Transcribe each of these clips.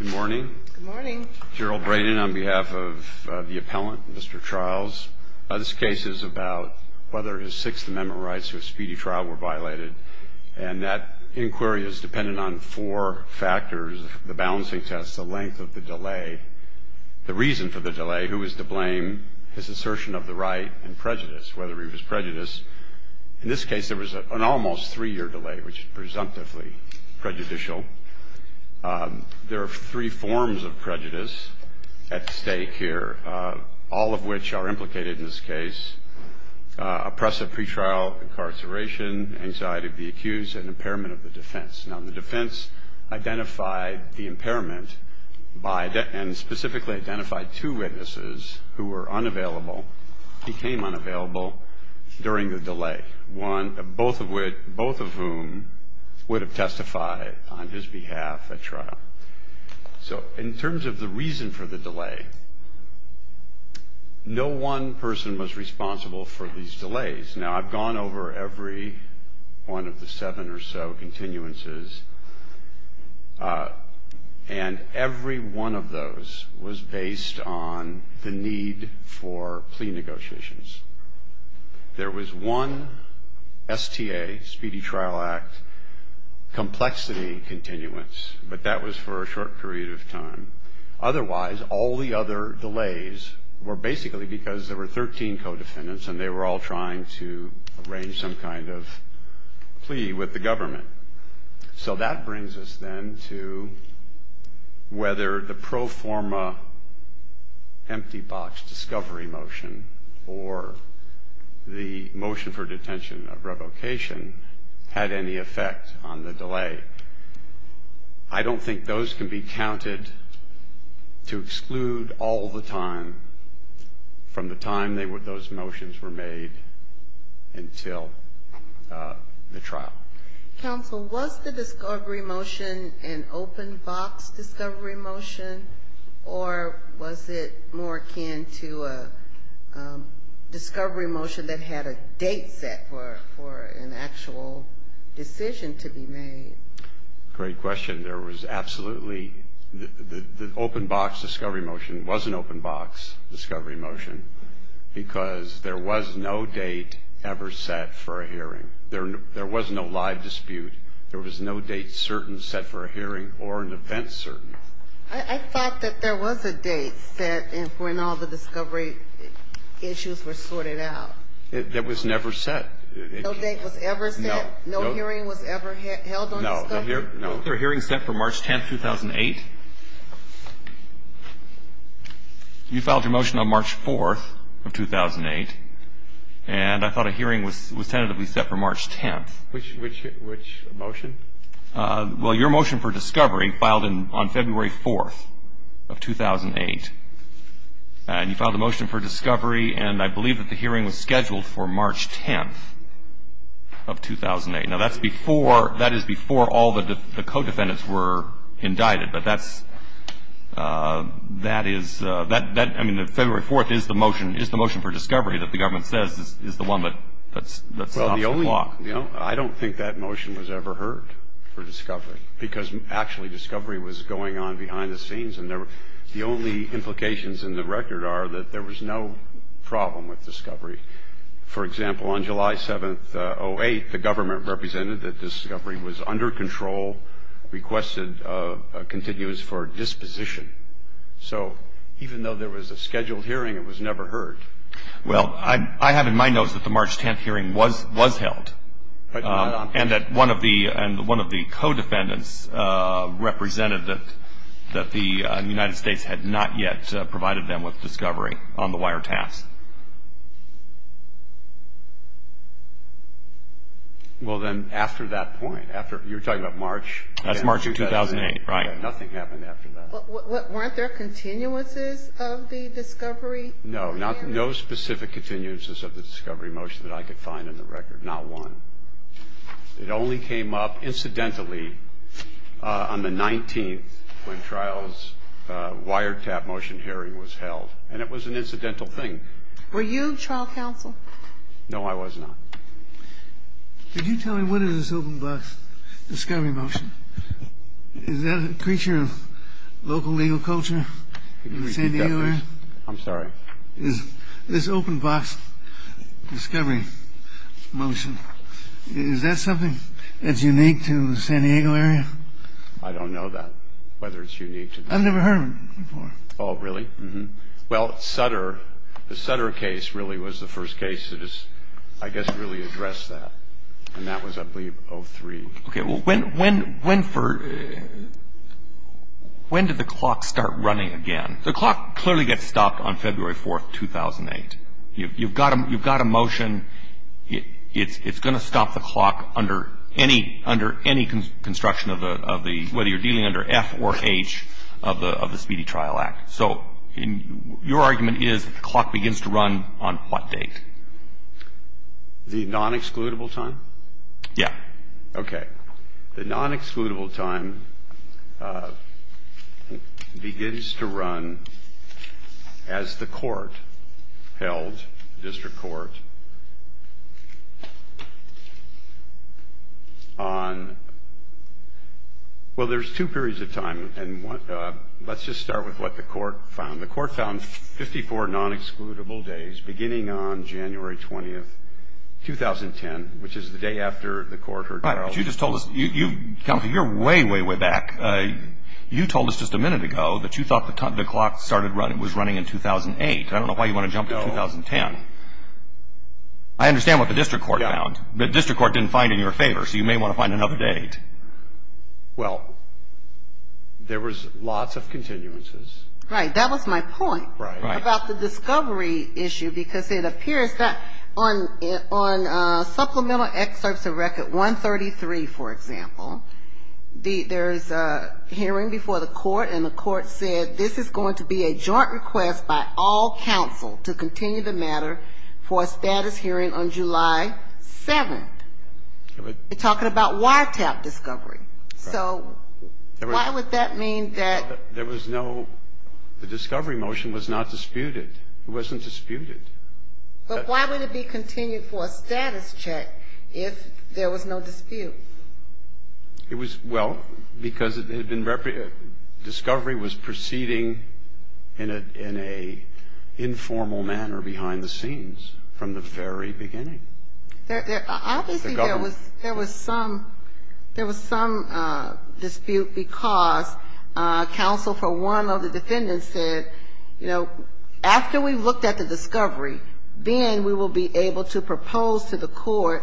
Good morning. Good morning. Gerald Braden on behalf of the appellant, Mr. Tryals. This case is about whether his Sixth Amendment rights to a speedy trial were violated. And that inquiry is dependent on four factors, the balancing test, the length of the delay, the reason for the delay, who is to blame, his assertion of the right, and prejudice, whether he was prejudiced. In this case there was an almost three-year delay, which is presumptively prejudicial. There are three forms of prejudice at stake here, all of which are implicated in this case, oppressive pretrial incarceration, anxiety of the accused, and impairment of the defense. Now, the defense identified the impairment and specifically identified two witnesses who were unavailable, became unavailable during the delay, both of whom would have testified on his behalf at trial. So in terms of the reason for the delay, no one person was responsible for these delays. Now, I've gone over every one of the seven or so continuances, and every one of those was based on the need for plea negotiations. There was one STA, Speedy Trial Act, complexity continuance, but that was for a short period of time. Otherwise, all the other delays were basically because there were 13 co-defendants and they were all trying to arrange some kind of plea with the government. So that brings us then to whether the pro forma empty box discovery motion or the motion for detention of revocation had any effect on the delay. I don't think those can be counted to exclude all the time from the time those motions were made until the trial. Counsel, was the discovery motion an open box discovery motion, or was it more akin to a discovery motion that had a date set for an actual decision to be made? Great question. There was absolutely the open box discovery motion was an open box discovery motion because there was no date ever set for a hearing. There was no live dispute. There was no date certain set for a hearing or an event certain. I thought that there was a date set when all the discovery issues were sorted out. That was never set. No date was ever set? No. No hearing was ever held on discovery? No. There was a hearing set for March 10th, 2008. You filed your motion on March 4th of 2008, and I thought a hearing was tentatively set for March 10th. Which motion? Well, your motion for discovery filed on February 4th of 2008, and you filed a motion for discovery, and I believe that the hearing was scheduled for March 10th of 2008. Now, that's before, that is before all the co-defendants were indicted, but that's, that is, that, I mean, February 4th is the motion, is the motion for discovery that the government says is the one that stops the clock. Well, the only, you know, I don't think that motion was ever heard for discovery because actually discovery was going on behind the scenes, and the only implications in the record are that there was no problem with discovery. For example, on July 7th, 2008, the government represented that discovery was under control, requested a continuous for disposition. So even though there was a scheduled hearing, it was never heard. Well, I have in my notes that the March 10th hearing was held, and that one of the co-defendants represented that the United States had not yet provided them with discovery on the wiretaps. Well, then, after that point, after, you're talking about March? That's March of 2008, right. Nothing happened after that. Weren't there continuances of the discovery? No, no specific continuances of the discovery motion that I could find in the record, not one. It only came up incidentally on the 19th when trial's wiretap motion hearing was held, and it was an incidental thing. Were you trial counsel? No, I was not. Could you tell me what is this open box discovery motion? Is that a creature of local legal culture in the San Diego area? I'm sorry. This open box discovery motion, is that something that's unique to the San Diego area? I don't know that, whether it's unique. I've never heard of it before. Oh, really? Well, Sutter, the Sutter case really was the first case that has, I guess, really addressed that, and that was, I believe, 03. Okay, well, when did the clock start running again? The clock clearly gets stopped on February 4th, 2008. You've got a motion. It's going to stop the clock under any construction of the, whether you're dealing under F or H of the Speedy Trial Act. So your argument is the clock begins to run on what date? The non-excludable time? Yeah. Okay. The non-excludable time begins to run as the court held, district court, on, well, there's two periods of time, and let's just start with what the court found. The court found 54 non-excludable days beginning on January 20th, 2010, which is the day after the court heard trial. Right, but you just told us, you're way, way, way back. You told us just a minute ago that you thought the clock was running in 2008. I don't know why you want to jump to 2010. I understand what the district court found. The district court didn't find it in your favor, so you may want to find another date. Well, there was lots of continuances. Right, that was my point about the discovery issue, because it appears that on supplemental excerpts of Record 133, for example, there's a hearing before the court, and the court said this is going to be a joint request by all counsel to continue the matter for a status hearing on July 7th. You're talking about wiretap discovery. So why would that mean that? There was no the discovery motion was not disputed. It wasn't disputed. But why would it be continued for a status check if there was no dispute? It was, well, because it had been discovery was proceeding in an informal manner behind the scenes from the very beginning. Obviously, there was some dispute because counsel for one of the defendants said, you know, after we looked at the discovery, then we will be able to propose to the court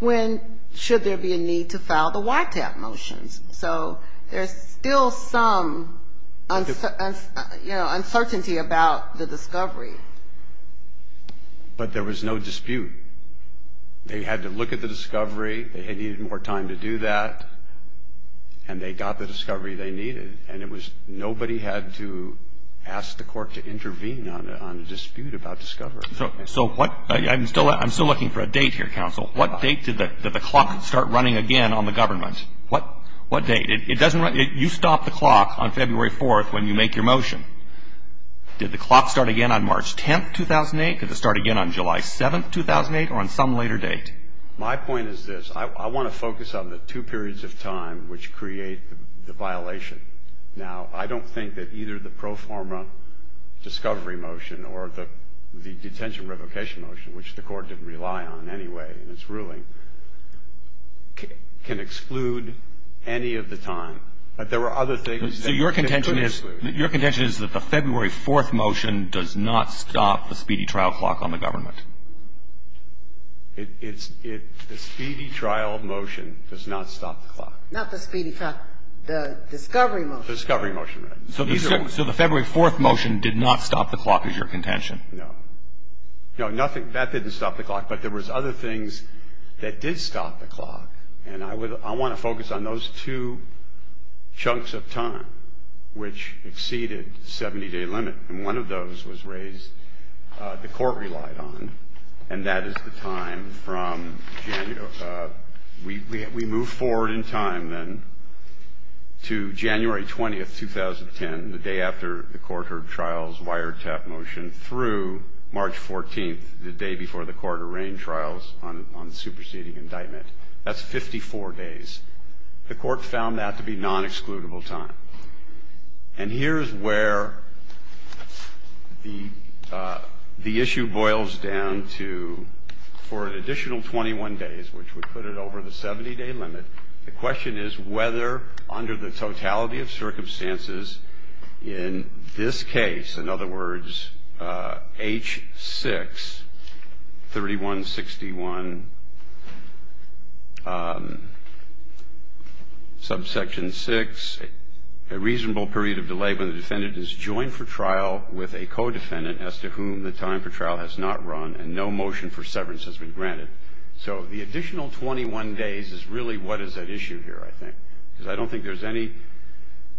when should there be a need to file the wiretap motions. So there's still some, you know, uncertainty about the discovery. But there was no dispute. They had to look at the discovery. They needed more time to do that. And they got the discovery they needed. And it was nobody had to ask the court to intervene on a dispute about discovery. So what I'm still looking for a date here, counsel. What date did the clock start running again on the government? What date? It doesn't run. You stop the clock on February 4th when you make your motion. Did the clock start again on March 10th, 2008? Did it start again on July 7th, 2008 or on some later date? My point is this. I want to focus on the two periods of time which create the violation. Now, I don't think that either the pro forma discovery motion or the detention revocation motion, which the court didn't rely on anyway in its ruling, can exclude any of the time. But there were other things that could exclude. So your contention is that the February 4th motion does not stop the speedy trial clock on the government? The speedy trial motion does not stop the clock. Not the speedy trial. The discovery motion. The discovery motion, right. So the February 4th motion did not stop the clock is your contention? No. No, nothing. That didn't stop the clock. But there was other things that did stop the clock. And I want to focus on those two chunks of time which exceeded the 70-day limit. And one of those was raised the court relied on. And that is the time from January. We move forward in time then to January 20th, 2010, the day after the court heard trials, wiretap motion through March 14th, the day before the court arraigned trials on the superseding indictment. That's 54 days. The court found that to be nonexcludable time. And here's where the issue boils down to for an additional 21 days, which would put it over the 70-day limit, the question is whether under the totality of circumstances in this case, in other words, H6, 3161, subsection 6, a reasonable period of delay when the defendant is joined for trial with a co-defendant as to whom the time for trial has not run and no motion for severance has been granted. So the additional 21 days is really what is at issue here, I think. Because I don't think there's any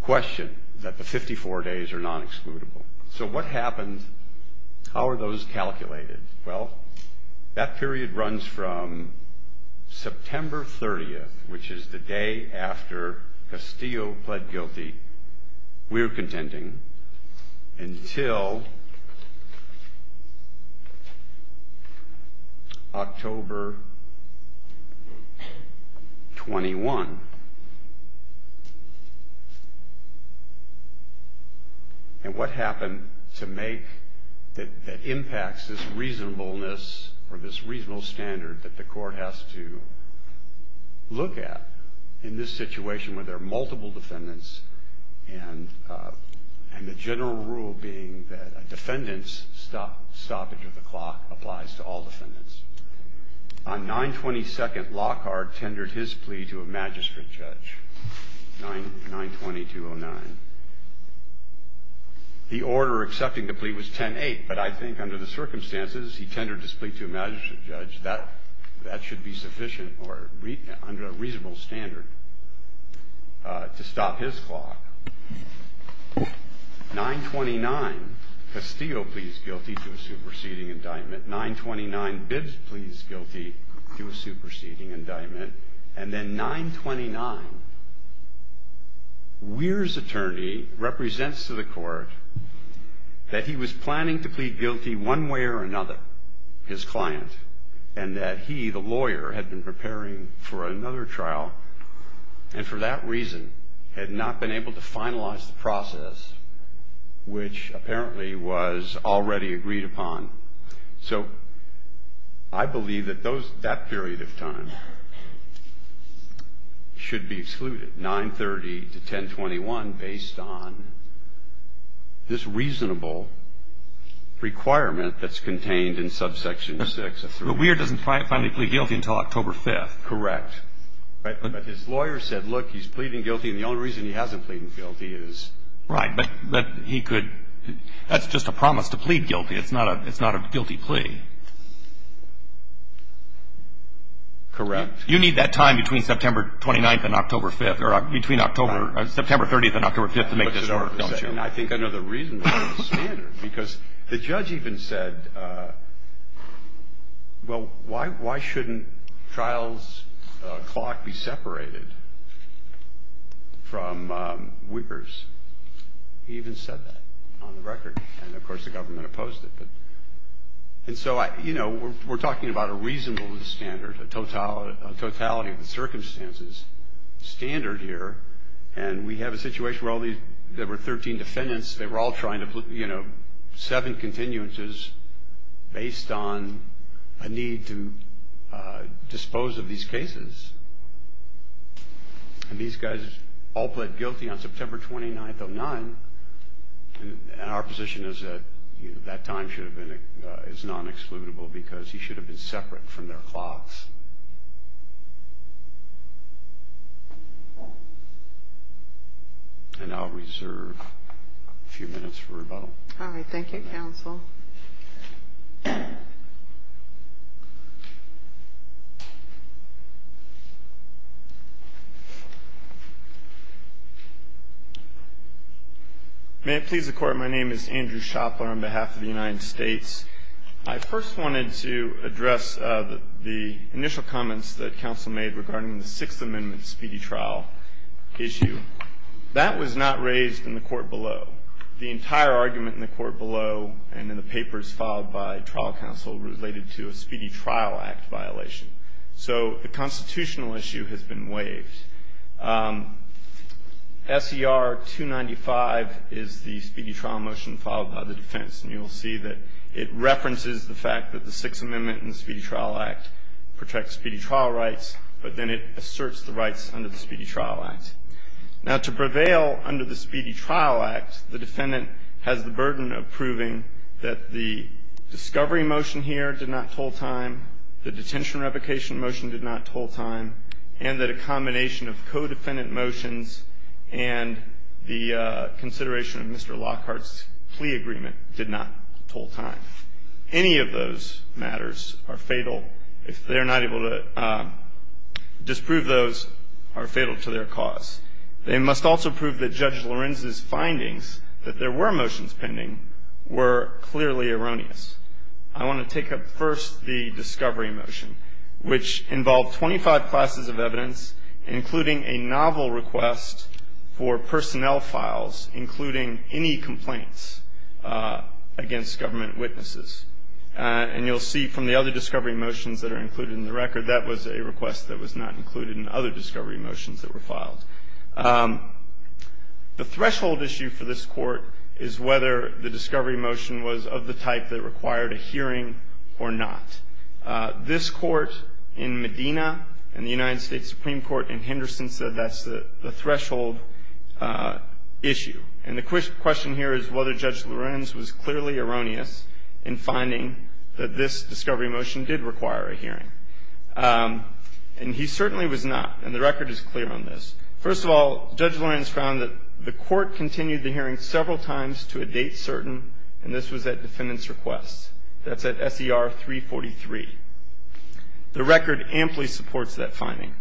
question that the 54 days are nonexcludable. So what happened? How are those calculated? Well, that period runs from September 30th, which is the day after Castillo pled guilty, we're contending, until October 21. And what happened to make, that impacts this reasonableness or this reasonable standard that the court has to look at in this situation where there are multiple defendants and the general rule being that a defendant's stoppage of the clock applies to all defendants. On 9-22nd, Lockhart tendered his plea to a magistrate judge, 9-22-09. The order accepting the plea was 10-8, but I think under the circumstances, he tendered his plea to a magistrate judge, that should be sufficient or under a reasonable standard to stop his clock. 9-29, Castillo pleads guilty to a superseding indictment. 9-29, Bibbs pleads guilty to a superseding indictment. And then 9-29, Weir's attorney represents to the court that he was planning to plead guilty one way or another, his client, and that he, the lawyer, had been preparing for another trial and for that reason had not been able to finalize the process, which apparently was already agreed upon. So I believe that those, that period of time should be excluded, 9-30 to 10-21, based on this reasonable requirement that's contained in subsection 6 of 3. But Weir doesn't finally plead guilty until October 5th. Correct. But his lawyer said, look, he's pleading guilty and the only reason he hasn't pleaded guilty is. Right. But he could, that's just a promise to plead guilty. It's not a, it's not a guilty plea. Correct. You need that time between September 29th and October 5th, or between October, September 30th and October 5th to make this work, don't you? I think another reasonable standard, because the judge even said, well, why, why shouldn't trial's clock be separated from Weir's? He even said that on the record. And, of course, the government opposed it. And so, you know, we're talking about a reasonable standard, a totality of the circumstances standard here. And we have a situation where all these, there were 13 defendants. They were all trying to, you know, seven continuances based on a need to dispose of these cases. And these guys all pled guilty on September 29th of 9. And our position is that that time should have been, is non-excludable, because he should have been separate from their clocks. And I'll reserve a few minutes for rebuttal. All right. Thank you, counsel. May it please the Court, my name is Andrew Shopler on behalf of the United States. I first wanted to address the initial comments that counsel made regarding the Sixth Amendment speedy trial issue. That was not raised in the court below. The entire argument in the court below and in the papers filed by trial counsel related to a speedy trial act violation. So the constitutional issue has been waived. SER 295 is the speedy trial motion filed by the defense. And you'll see that it references the fact that the Sixth Amendment and the Speedy Trial Act protect speedy trial rights, but then it asserts the rights under the Speedy Trial Act. Now, to prevail under the Speedy Trial Act, the defendant has the burden of proving that the discovery motion here did not toll time, the detention revocation motion did not toll time, and that a combination of co-defendant motions and the consideration of Mr. Lockhart's plea agreement did not toll time. Any of those matters are fatal. If they're not able to disprove those, are fatal to their cause. They must also prove that Judge Lorenz's findings that there were motions pending were clearly erroneous. I want to take up first the discovery motion, which involved 25 classes of evidence including a novel request for personnel files, including any complaints against government witnesses. And you'll see from the other discovery motions that are included in the record, that was a request that was not included in other discovery motions that were filed. The threshold issue for this Court is whether the discovery motion was of the type that required a hearing or not. This Court in Medina and the United States Supreme Court in Henderson said that's the threshold issue. And the question here is whether Judge Lorenz was clearly erroneous in finding that this discovery motion did require a hearing. And he certainly was not, and the record is clear on this. First of all, Judge Lorenz found that the Court continued the hearing several times to a date certain, and this was at defendant's request. That's at SER 343. The record amply supports that finding.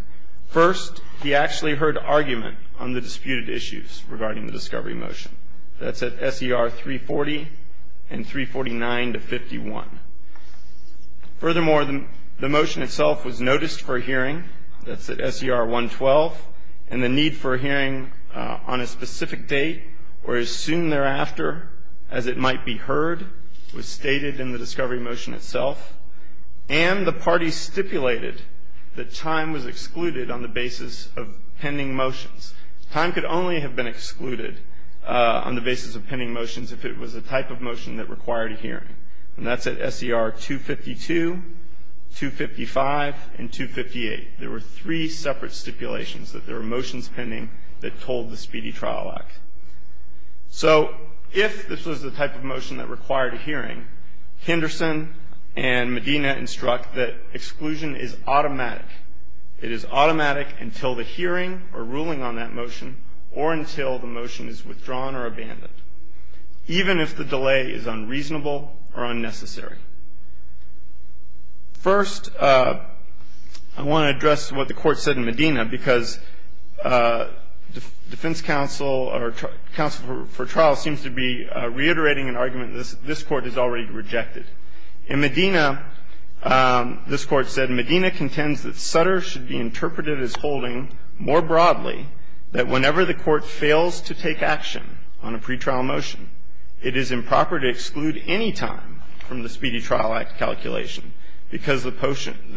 First, he actually heard argument on the disputed issues regarding the discovery motion. That's at SER 340 and 349 to 51. Furthermore, the motion itself was noticed for hearing. That's at SER 112. And the need for a hearing on a specific date or as soon thereafter as it might be heard was stated in the discovery motion itself. And the parties stipulated that time was excluded on the basis of pending motions. Time could only have been excluded on the basis of pending motions if it was a type of motion that required a hearing. And that's at SER 252, 255, and 258. There were three separate stipulations that there were motions pending that told the Speedy Trial Act. So if this was the type of motion that required a hearing, Henderson and Medina instruct that exclusion is automatic. It is automatic until the hearing or ruling on that motion or until the motion is withdrawn or abandoned, even if the delay is unreasonable or unnecessary. First, I want to address what the Court said in Medina because defense counsel or counsel for trial seems to be reiterating an argument this Court has already rejected. In Medina, this Court said, Medina contends that Sutter should be interpreted as holding more broadly that whenever the Court fails to take action on a pretrial motion, it is improper to exclude any time from the Speedy Trial Act calculation because the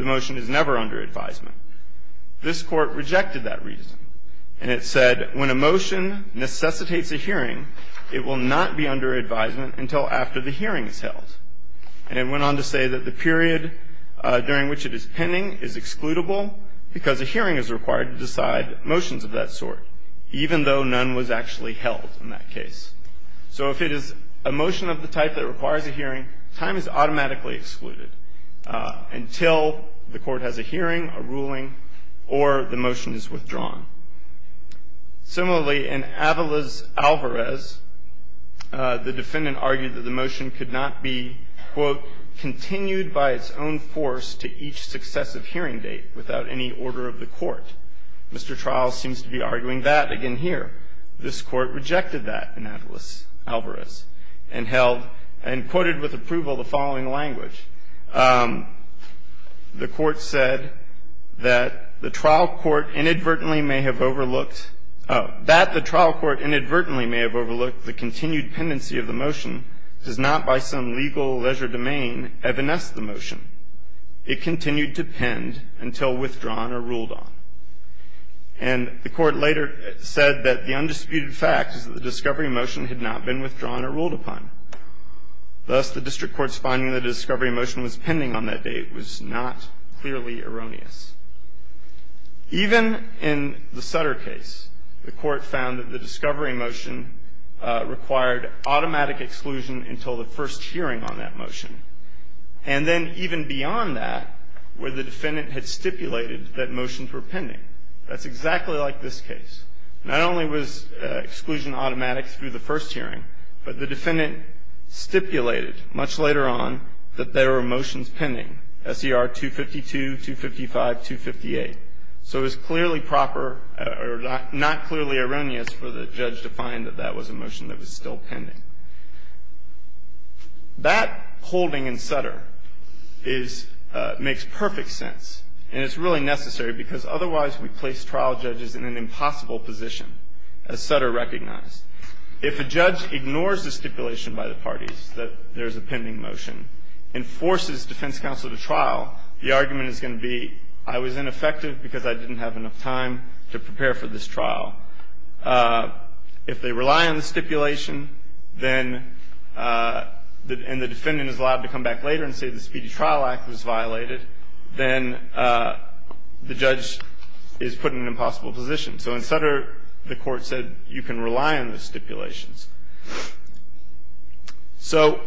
motion is never under advisement. This Court rejected that reason, and it said when a motion necessitates a hearing, it will not be under advisement until after the hearing is held. And it went on to say that the period during which it is pending is excludable because a hearing is required to decide motions of that sort, even though none was actually held in that case. So if it is a motion of the type that requires a hearing, time is automatically excluded until the Court has a hearing, a ruling, or the motion is withdrawn. Similarly, in Avalos-Alvarez, the defendant argued that the motion could not be, quote, continued by its own force to each successive hearing date without any order of the Court. Mr. Trial seems to be arguing that again here. This Court rejected that in Avalos-Alvarez and held, and quoted with approval, the following language. The Court said that the trial court inadvertently may have overlooked the continued pendency of the motion does not by some legal leisure domain evanesce the motion. It continued to pend until withdrawn or ruled on. And the Court later said that the undisputed fact is that the discovery motion had not been withdrawn or ruled upon. Thus, the district court's finding that a discovery motion was pending on that date was not clearly erroneous. Even in the Sutter case, the Court found that the discovery motion required automatic exclusion until the first hearing on that motion. And then even beyond that, where the defendant had stipulated that motions were pending. That's exactly like this case. Not only was exclusion automatic through the first hearing, but the defendant stipulated much later on that there were motions pending, S.E.R. 252, 255, 258. So it was clearly proper or not clearly erroneous for the judge to find that that was a motion that was still pending. That holding in Sutter makes perfect sense. And it's really necessary, because otherwise we place trial judges in an impossible position, as Sutter recognized. If a judge ignores the stipulation by the parties that there's a pending motion and forces defense counsel to trial, the argument is going to be, I was ineffective because I didn't have enough time to prepare for this trial. If they rely on the stipulation, then, and the defendant is allowed to come back later and say the Speedy Trial Act was violated, then the judge is put in an impossible position. So in Sutter, the Court said you can rely on the stipulations. So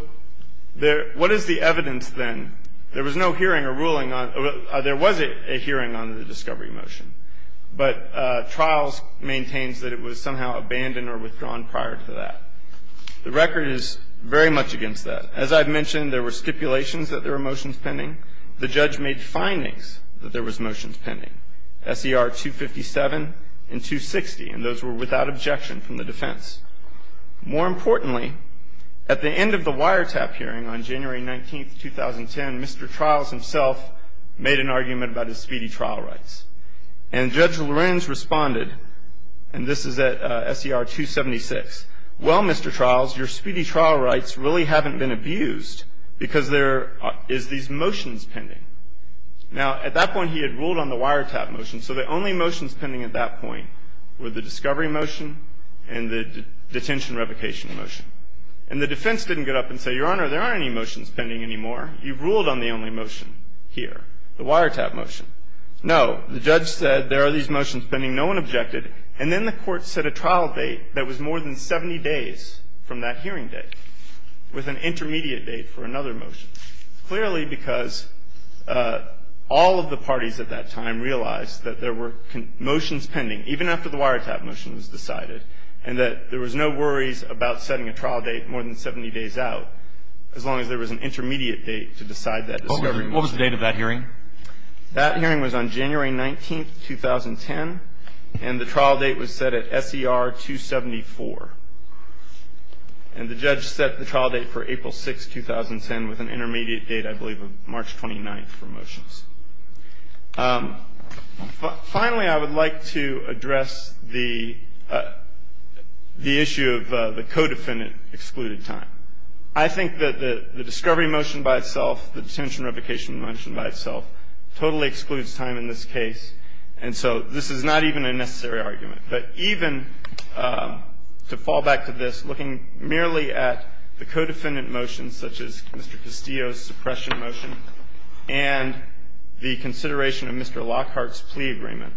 what is the evidence, then? There was no hearing or ruling on or there was a hearing on the discovery motion, but trials maintains that it was somehow abandoned or withdrawn prior to that. The record is very much against that. As I've mentioned, there were stipulations that there were motions pending. The judge made findings that there was motions pending, S.E.R. 257 and 260, and those were without objection from the defense. More importantly, at the end of the wiretap hearing on January 19, 2010, Mr. Trials himself made an argument about his speedy trial rights. And Judge Lorenz responded, and this is at S.E.R. 276, well, Mr. Trials, your speedy trial rights really haven't been abused because there is these motions pending. Now, at that point, he had ruled on the wiretap motion, so the only motions pending at that point were the discovery motion and the detention revocation motion. And the defense didn't get up and say, Your Honor, there aren't any motions pending anymore. You've ruled on the only motion here, the wiretap motion. No. The judge said there are these motions pending. No one objected. And then the Court set a trial date that was more than 70 days from that hearing date with an intermediate date for another motion. Clearly, because all of the parties at that time realized that there were motions pending, even after the wiretap motion was decided, and that there was no worries about setting a trial date more than 70 days out, as long as there was an intermediate date to decide that discovery motion. What was the date of that hearing? That hearing was on January 19th, 2010, and the trial date was set at SER 274. And the judge set the trial date for April 6th, 2010, with an intermediate date, I believe, of March 29th for motions. Finally, I would like to address the issue of the co-defendant excluded time. I think that the discovery motion by itself, the detention revocation motion by itself totally excludes time in this case. And so this is not even a necessary argument. But even to fall back to this, looking merely at the co-defendant motions, such as Mr. Castillo's suppression motion, and the consideration of Mr. Lockhart's plea agreement,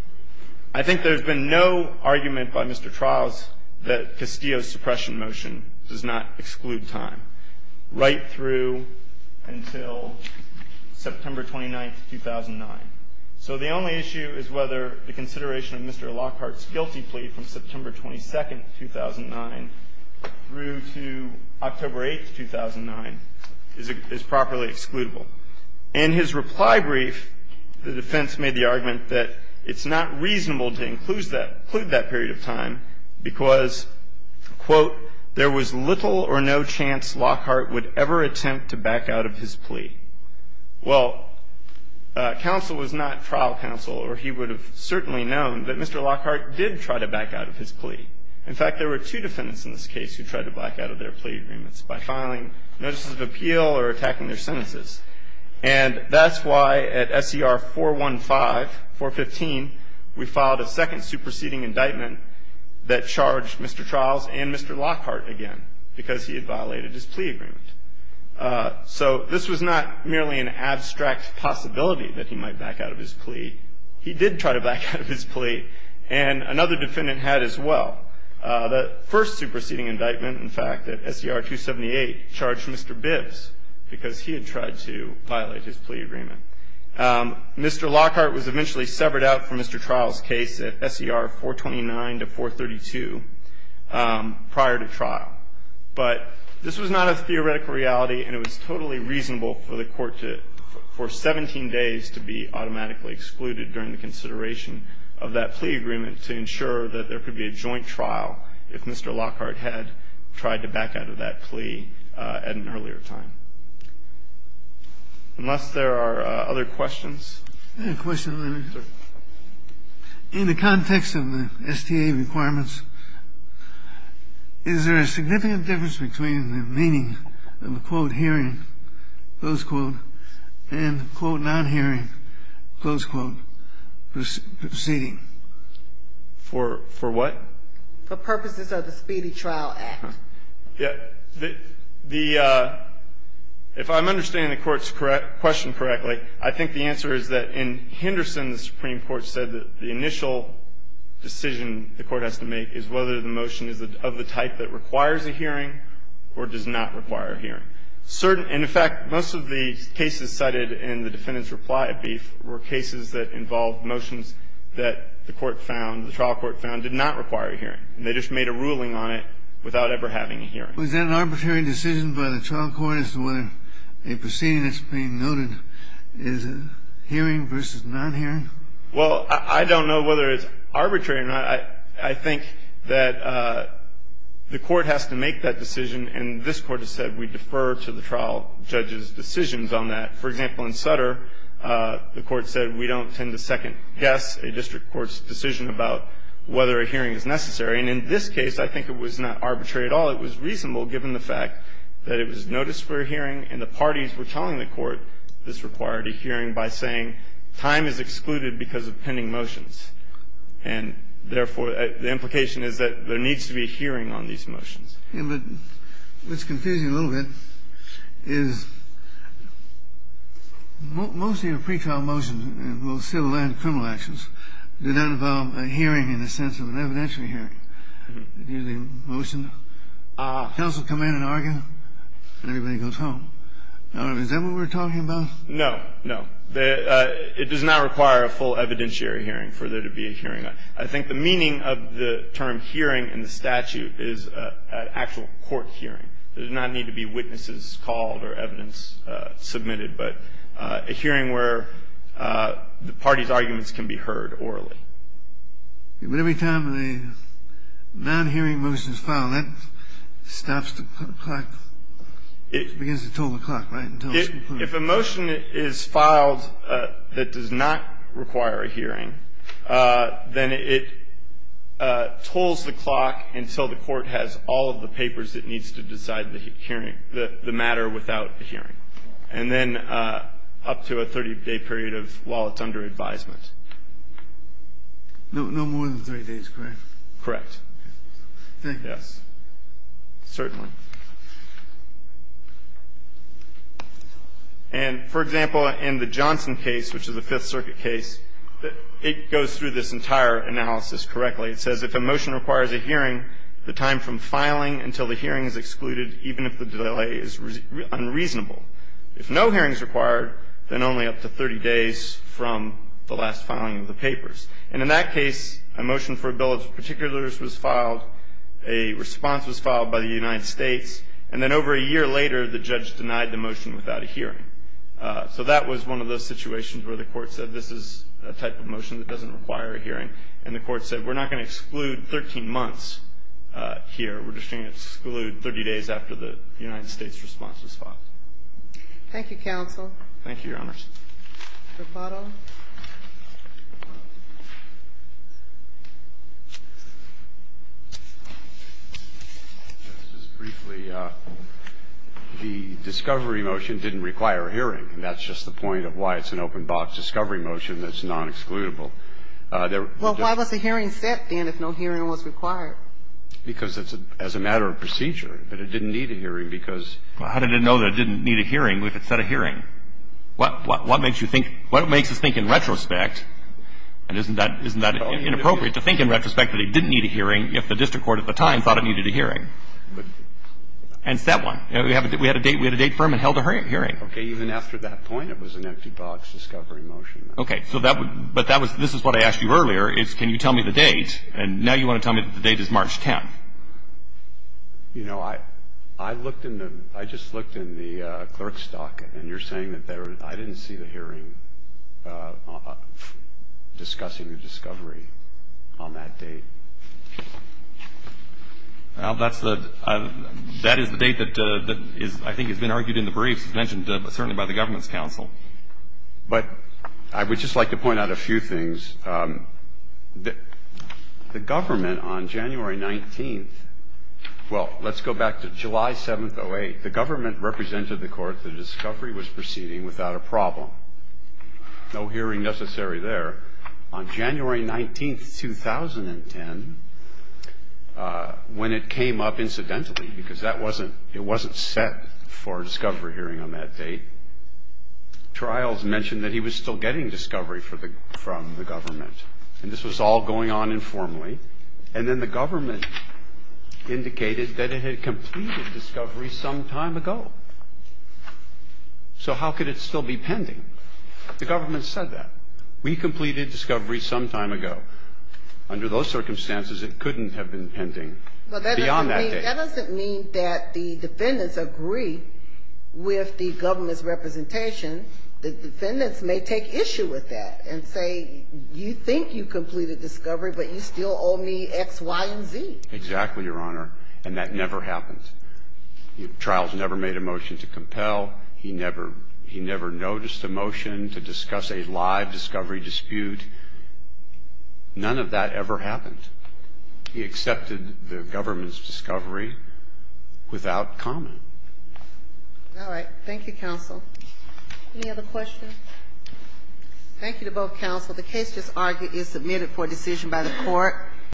I think there's been no argument by Mr. Trow's that Castillo's suppression motion does not exclude time. Right through until September 29th, 2009. So the only issue is whether the consideration of Mr. Lockhart's guilty plea from September 22nd, 2009, through to October 8th, 2009, is properly excludable. In his reply brief, the defense made the argument that it's not reasonable to include that period of time because, quote, there was little or no chance Lockhart would ever attempt to back out of his plea. Well, counsel was not trial counsel, or he would have certainly known that Mr. Lockhart did try to back out of his plea. In fact, there were two defendants in this case who tried to back out of their plea agreements by filing notices of appeal or attacking their sentences. And that's why at SER 415, we filed a second superseding indictment that charged Mr. Trow's and Mr. Lockhart again, because he had violated his plea agreement. So this was not merely an abstract possibility that he might back out of his plea. He did try to back out of his plea, and another defendant had as well. The first superseding indictment, in fact, at SER 278, charged Mr. Bibbs because he had tried to violate his plea agreement. Mr. Lockhart was eventually severed out from Mr. Trow's case at SER 429 to 432 prior to trial. But this was not a theoretical reality, and it was totally reasonable for the court to for 17 days to be automatically excluded during the consideration of that plea agreement to ensure that there could be a joint trial if Mr. Lockhart had tried to back out of that Unless there are other questions? I have a question, Leonard. Sure. In the context of the STA requirements, is there a significant difference between the meaning of the, quote, hearing, close quote, and, quote, non-hearing, close quote, proceeding? For what? For purposes of the Speedy Trial Act. If I'm understanding the Court's question correctly, I think the answer is that in Henderson, the Supreme Court said that the initial decision the Court has to make is whether the motion is of the type that requires a hearing or does not require a hearing. And, in fact, most of the cases cited in the defendant's reply brief were cases that involved motions that the Court found, the trial court found, did not require a hearing. They just made a ruling on it without ever having a hearing. Was that an arbitrary decision by the trial court as to whether a proceeding that's being noted is a hearing versus non-hearing? Well, I don't know whether it's arbitrary or not. I think that the Court has to make that decision, and this Court has said we defer to the trial judge's decisions on that. For example, in Sutter, the Court said we don't tend to second-guess a district court's decision about whether a hearing is necessary. And in this case, I think it was not arbitrary at all. It was reasonable, given the fact that it was noticed for a hearing and the parties were telling the Court this required a hearing by saying time is excluded because of pending motions. And, therefore, the implication is that there needs to be a hearing on these motions. But what's confusing a little bit is most of your pretrial motions, civil and criminal actions, do not involve a hearing in the sense of an evidentiary hearing. Usually a motion, counsel come in and argue, and everybody goes home. Is that what we're talking about? No. No. It does not require a full evidentiary hearing for there to be a hearing. I think the meaning of the term hearing in the statute is an actual court hearing. There does not need to be witnesses called or evidence submitted. But a hearing where the parties' arguments can be heard orally. But every time a non-hearing motion is filed, that stops the clock. It begins to toll the clock, right? If a motion is filed that does not require a hearing, then it tolls the clock until the Court has all of the papers it needs to decide the hearing, the matter without a hearing. And then up to a 30-day period of while it's under advisement. No more than 30 days, correct? Correct. Thank you. Yes. Certainly. And, for example, in the Johnson case, which is a Fifth Circuit case, it goes through this entire analysis correctly. It says, And in that case, a motion for a bill of particulars was filed, a response was filed by the United States, and then over a year later, the judge denied the motion without a hearing. So that was one of those situations where the Court said, this is a type of motion that doesn't require a hearing. And the Court said, we're not going to exclude a motion for a bill of particulars here. We're just going to exclude 30 days after the United States response was filed. Thank you, counsel. Thank you, Your Honors. Rapado. Just briefly, the discovery motion didn't require a hearing, and that's just the point of why it's an open-box discovery motion that's non-excludable. Well, why was the hearing set, then, if no hearing was required? Because it's as a matter of procedure, that it didn't need a hearing because Well, how did it know that it didn't need a hearing if it set a hearing? What makes you think, what makes us think in retrospect, and isn't that inappropriate to think in retrospect that it didn't need a hearing if the district court at the time thought it needed a hearing and set one? We had a date firm and held a hearing. Okay. Even after that point, it was an empty-box discovery motion. Okay. But this is what I asked you earlier, is can you tell me the date, and now you want to tell me that the date is March 10th. You know, I just looked in the clerk's stock, and you're saying that I didn't see the hearing discussing the discovery on that date. Well, that is the date that I think has been argued in the briefs. It's mentioned certainly by the government's counsel. But I would just like to point out a few things. The government on January 19th, well, let's go back to July 7th, 08, the government represented the court that a discovery was proceeding without a problem. No hearing necessary there. On January 19th, 2010, when it came up incidentally, because that wasn't, it wasn't set for a discovery hearing on that date, trials mentioned that he was still getting discovery from the government. And this was all going on informally. And then the government indicated that it had completed discovery some time ago. So how could it still be pending? The government said that. We completed discovery some time ago. Under those circumstances, it couldn't have been pending beyond that date. That doesn't mean that the defendants agree with the government's representation. The defendants may take issue with that and say, you think you completed discovery, but you still owe me X, Y, and Z. Exactly, Your Honor. And that never happens. Trials never made a motion to compel. He never noticed a motion to discuss a live discovery dispute. None of that ever happened. He accepted the government's discovery without comment. All right. Thank you, counsel. Any other questions? Thank you to both counsel. The case just argued is submitted for decision by the court.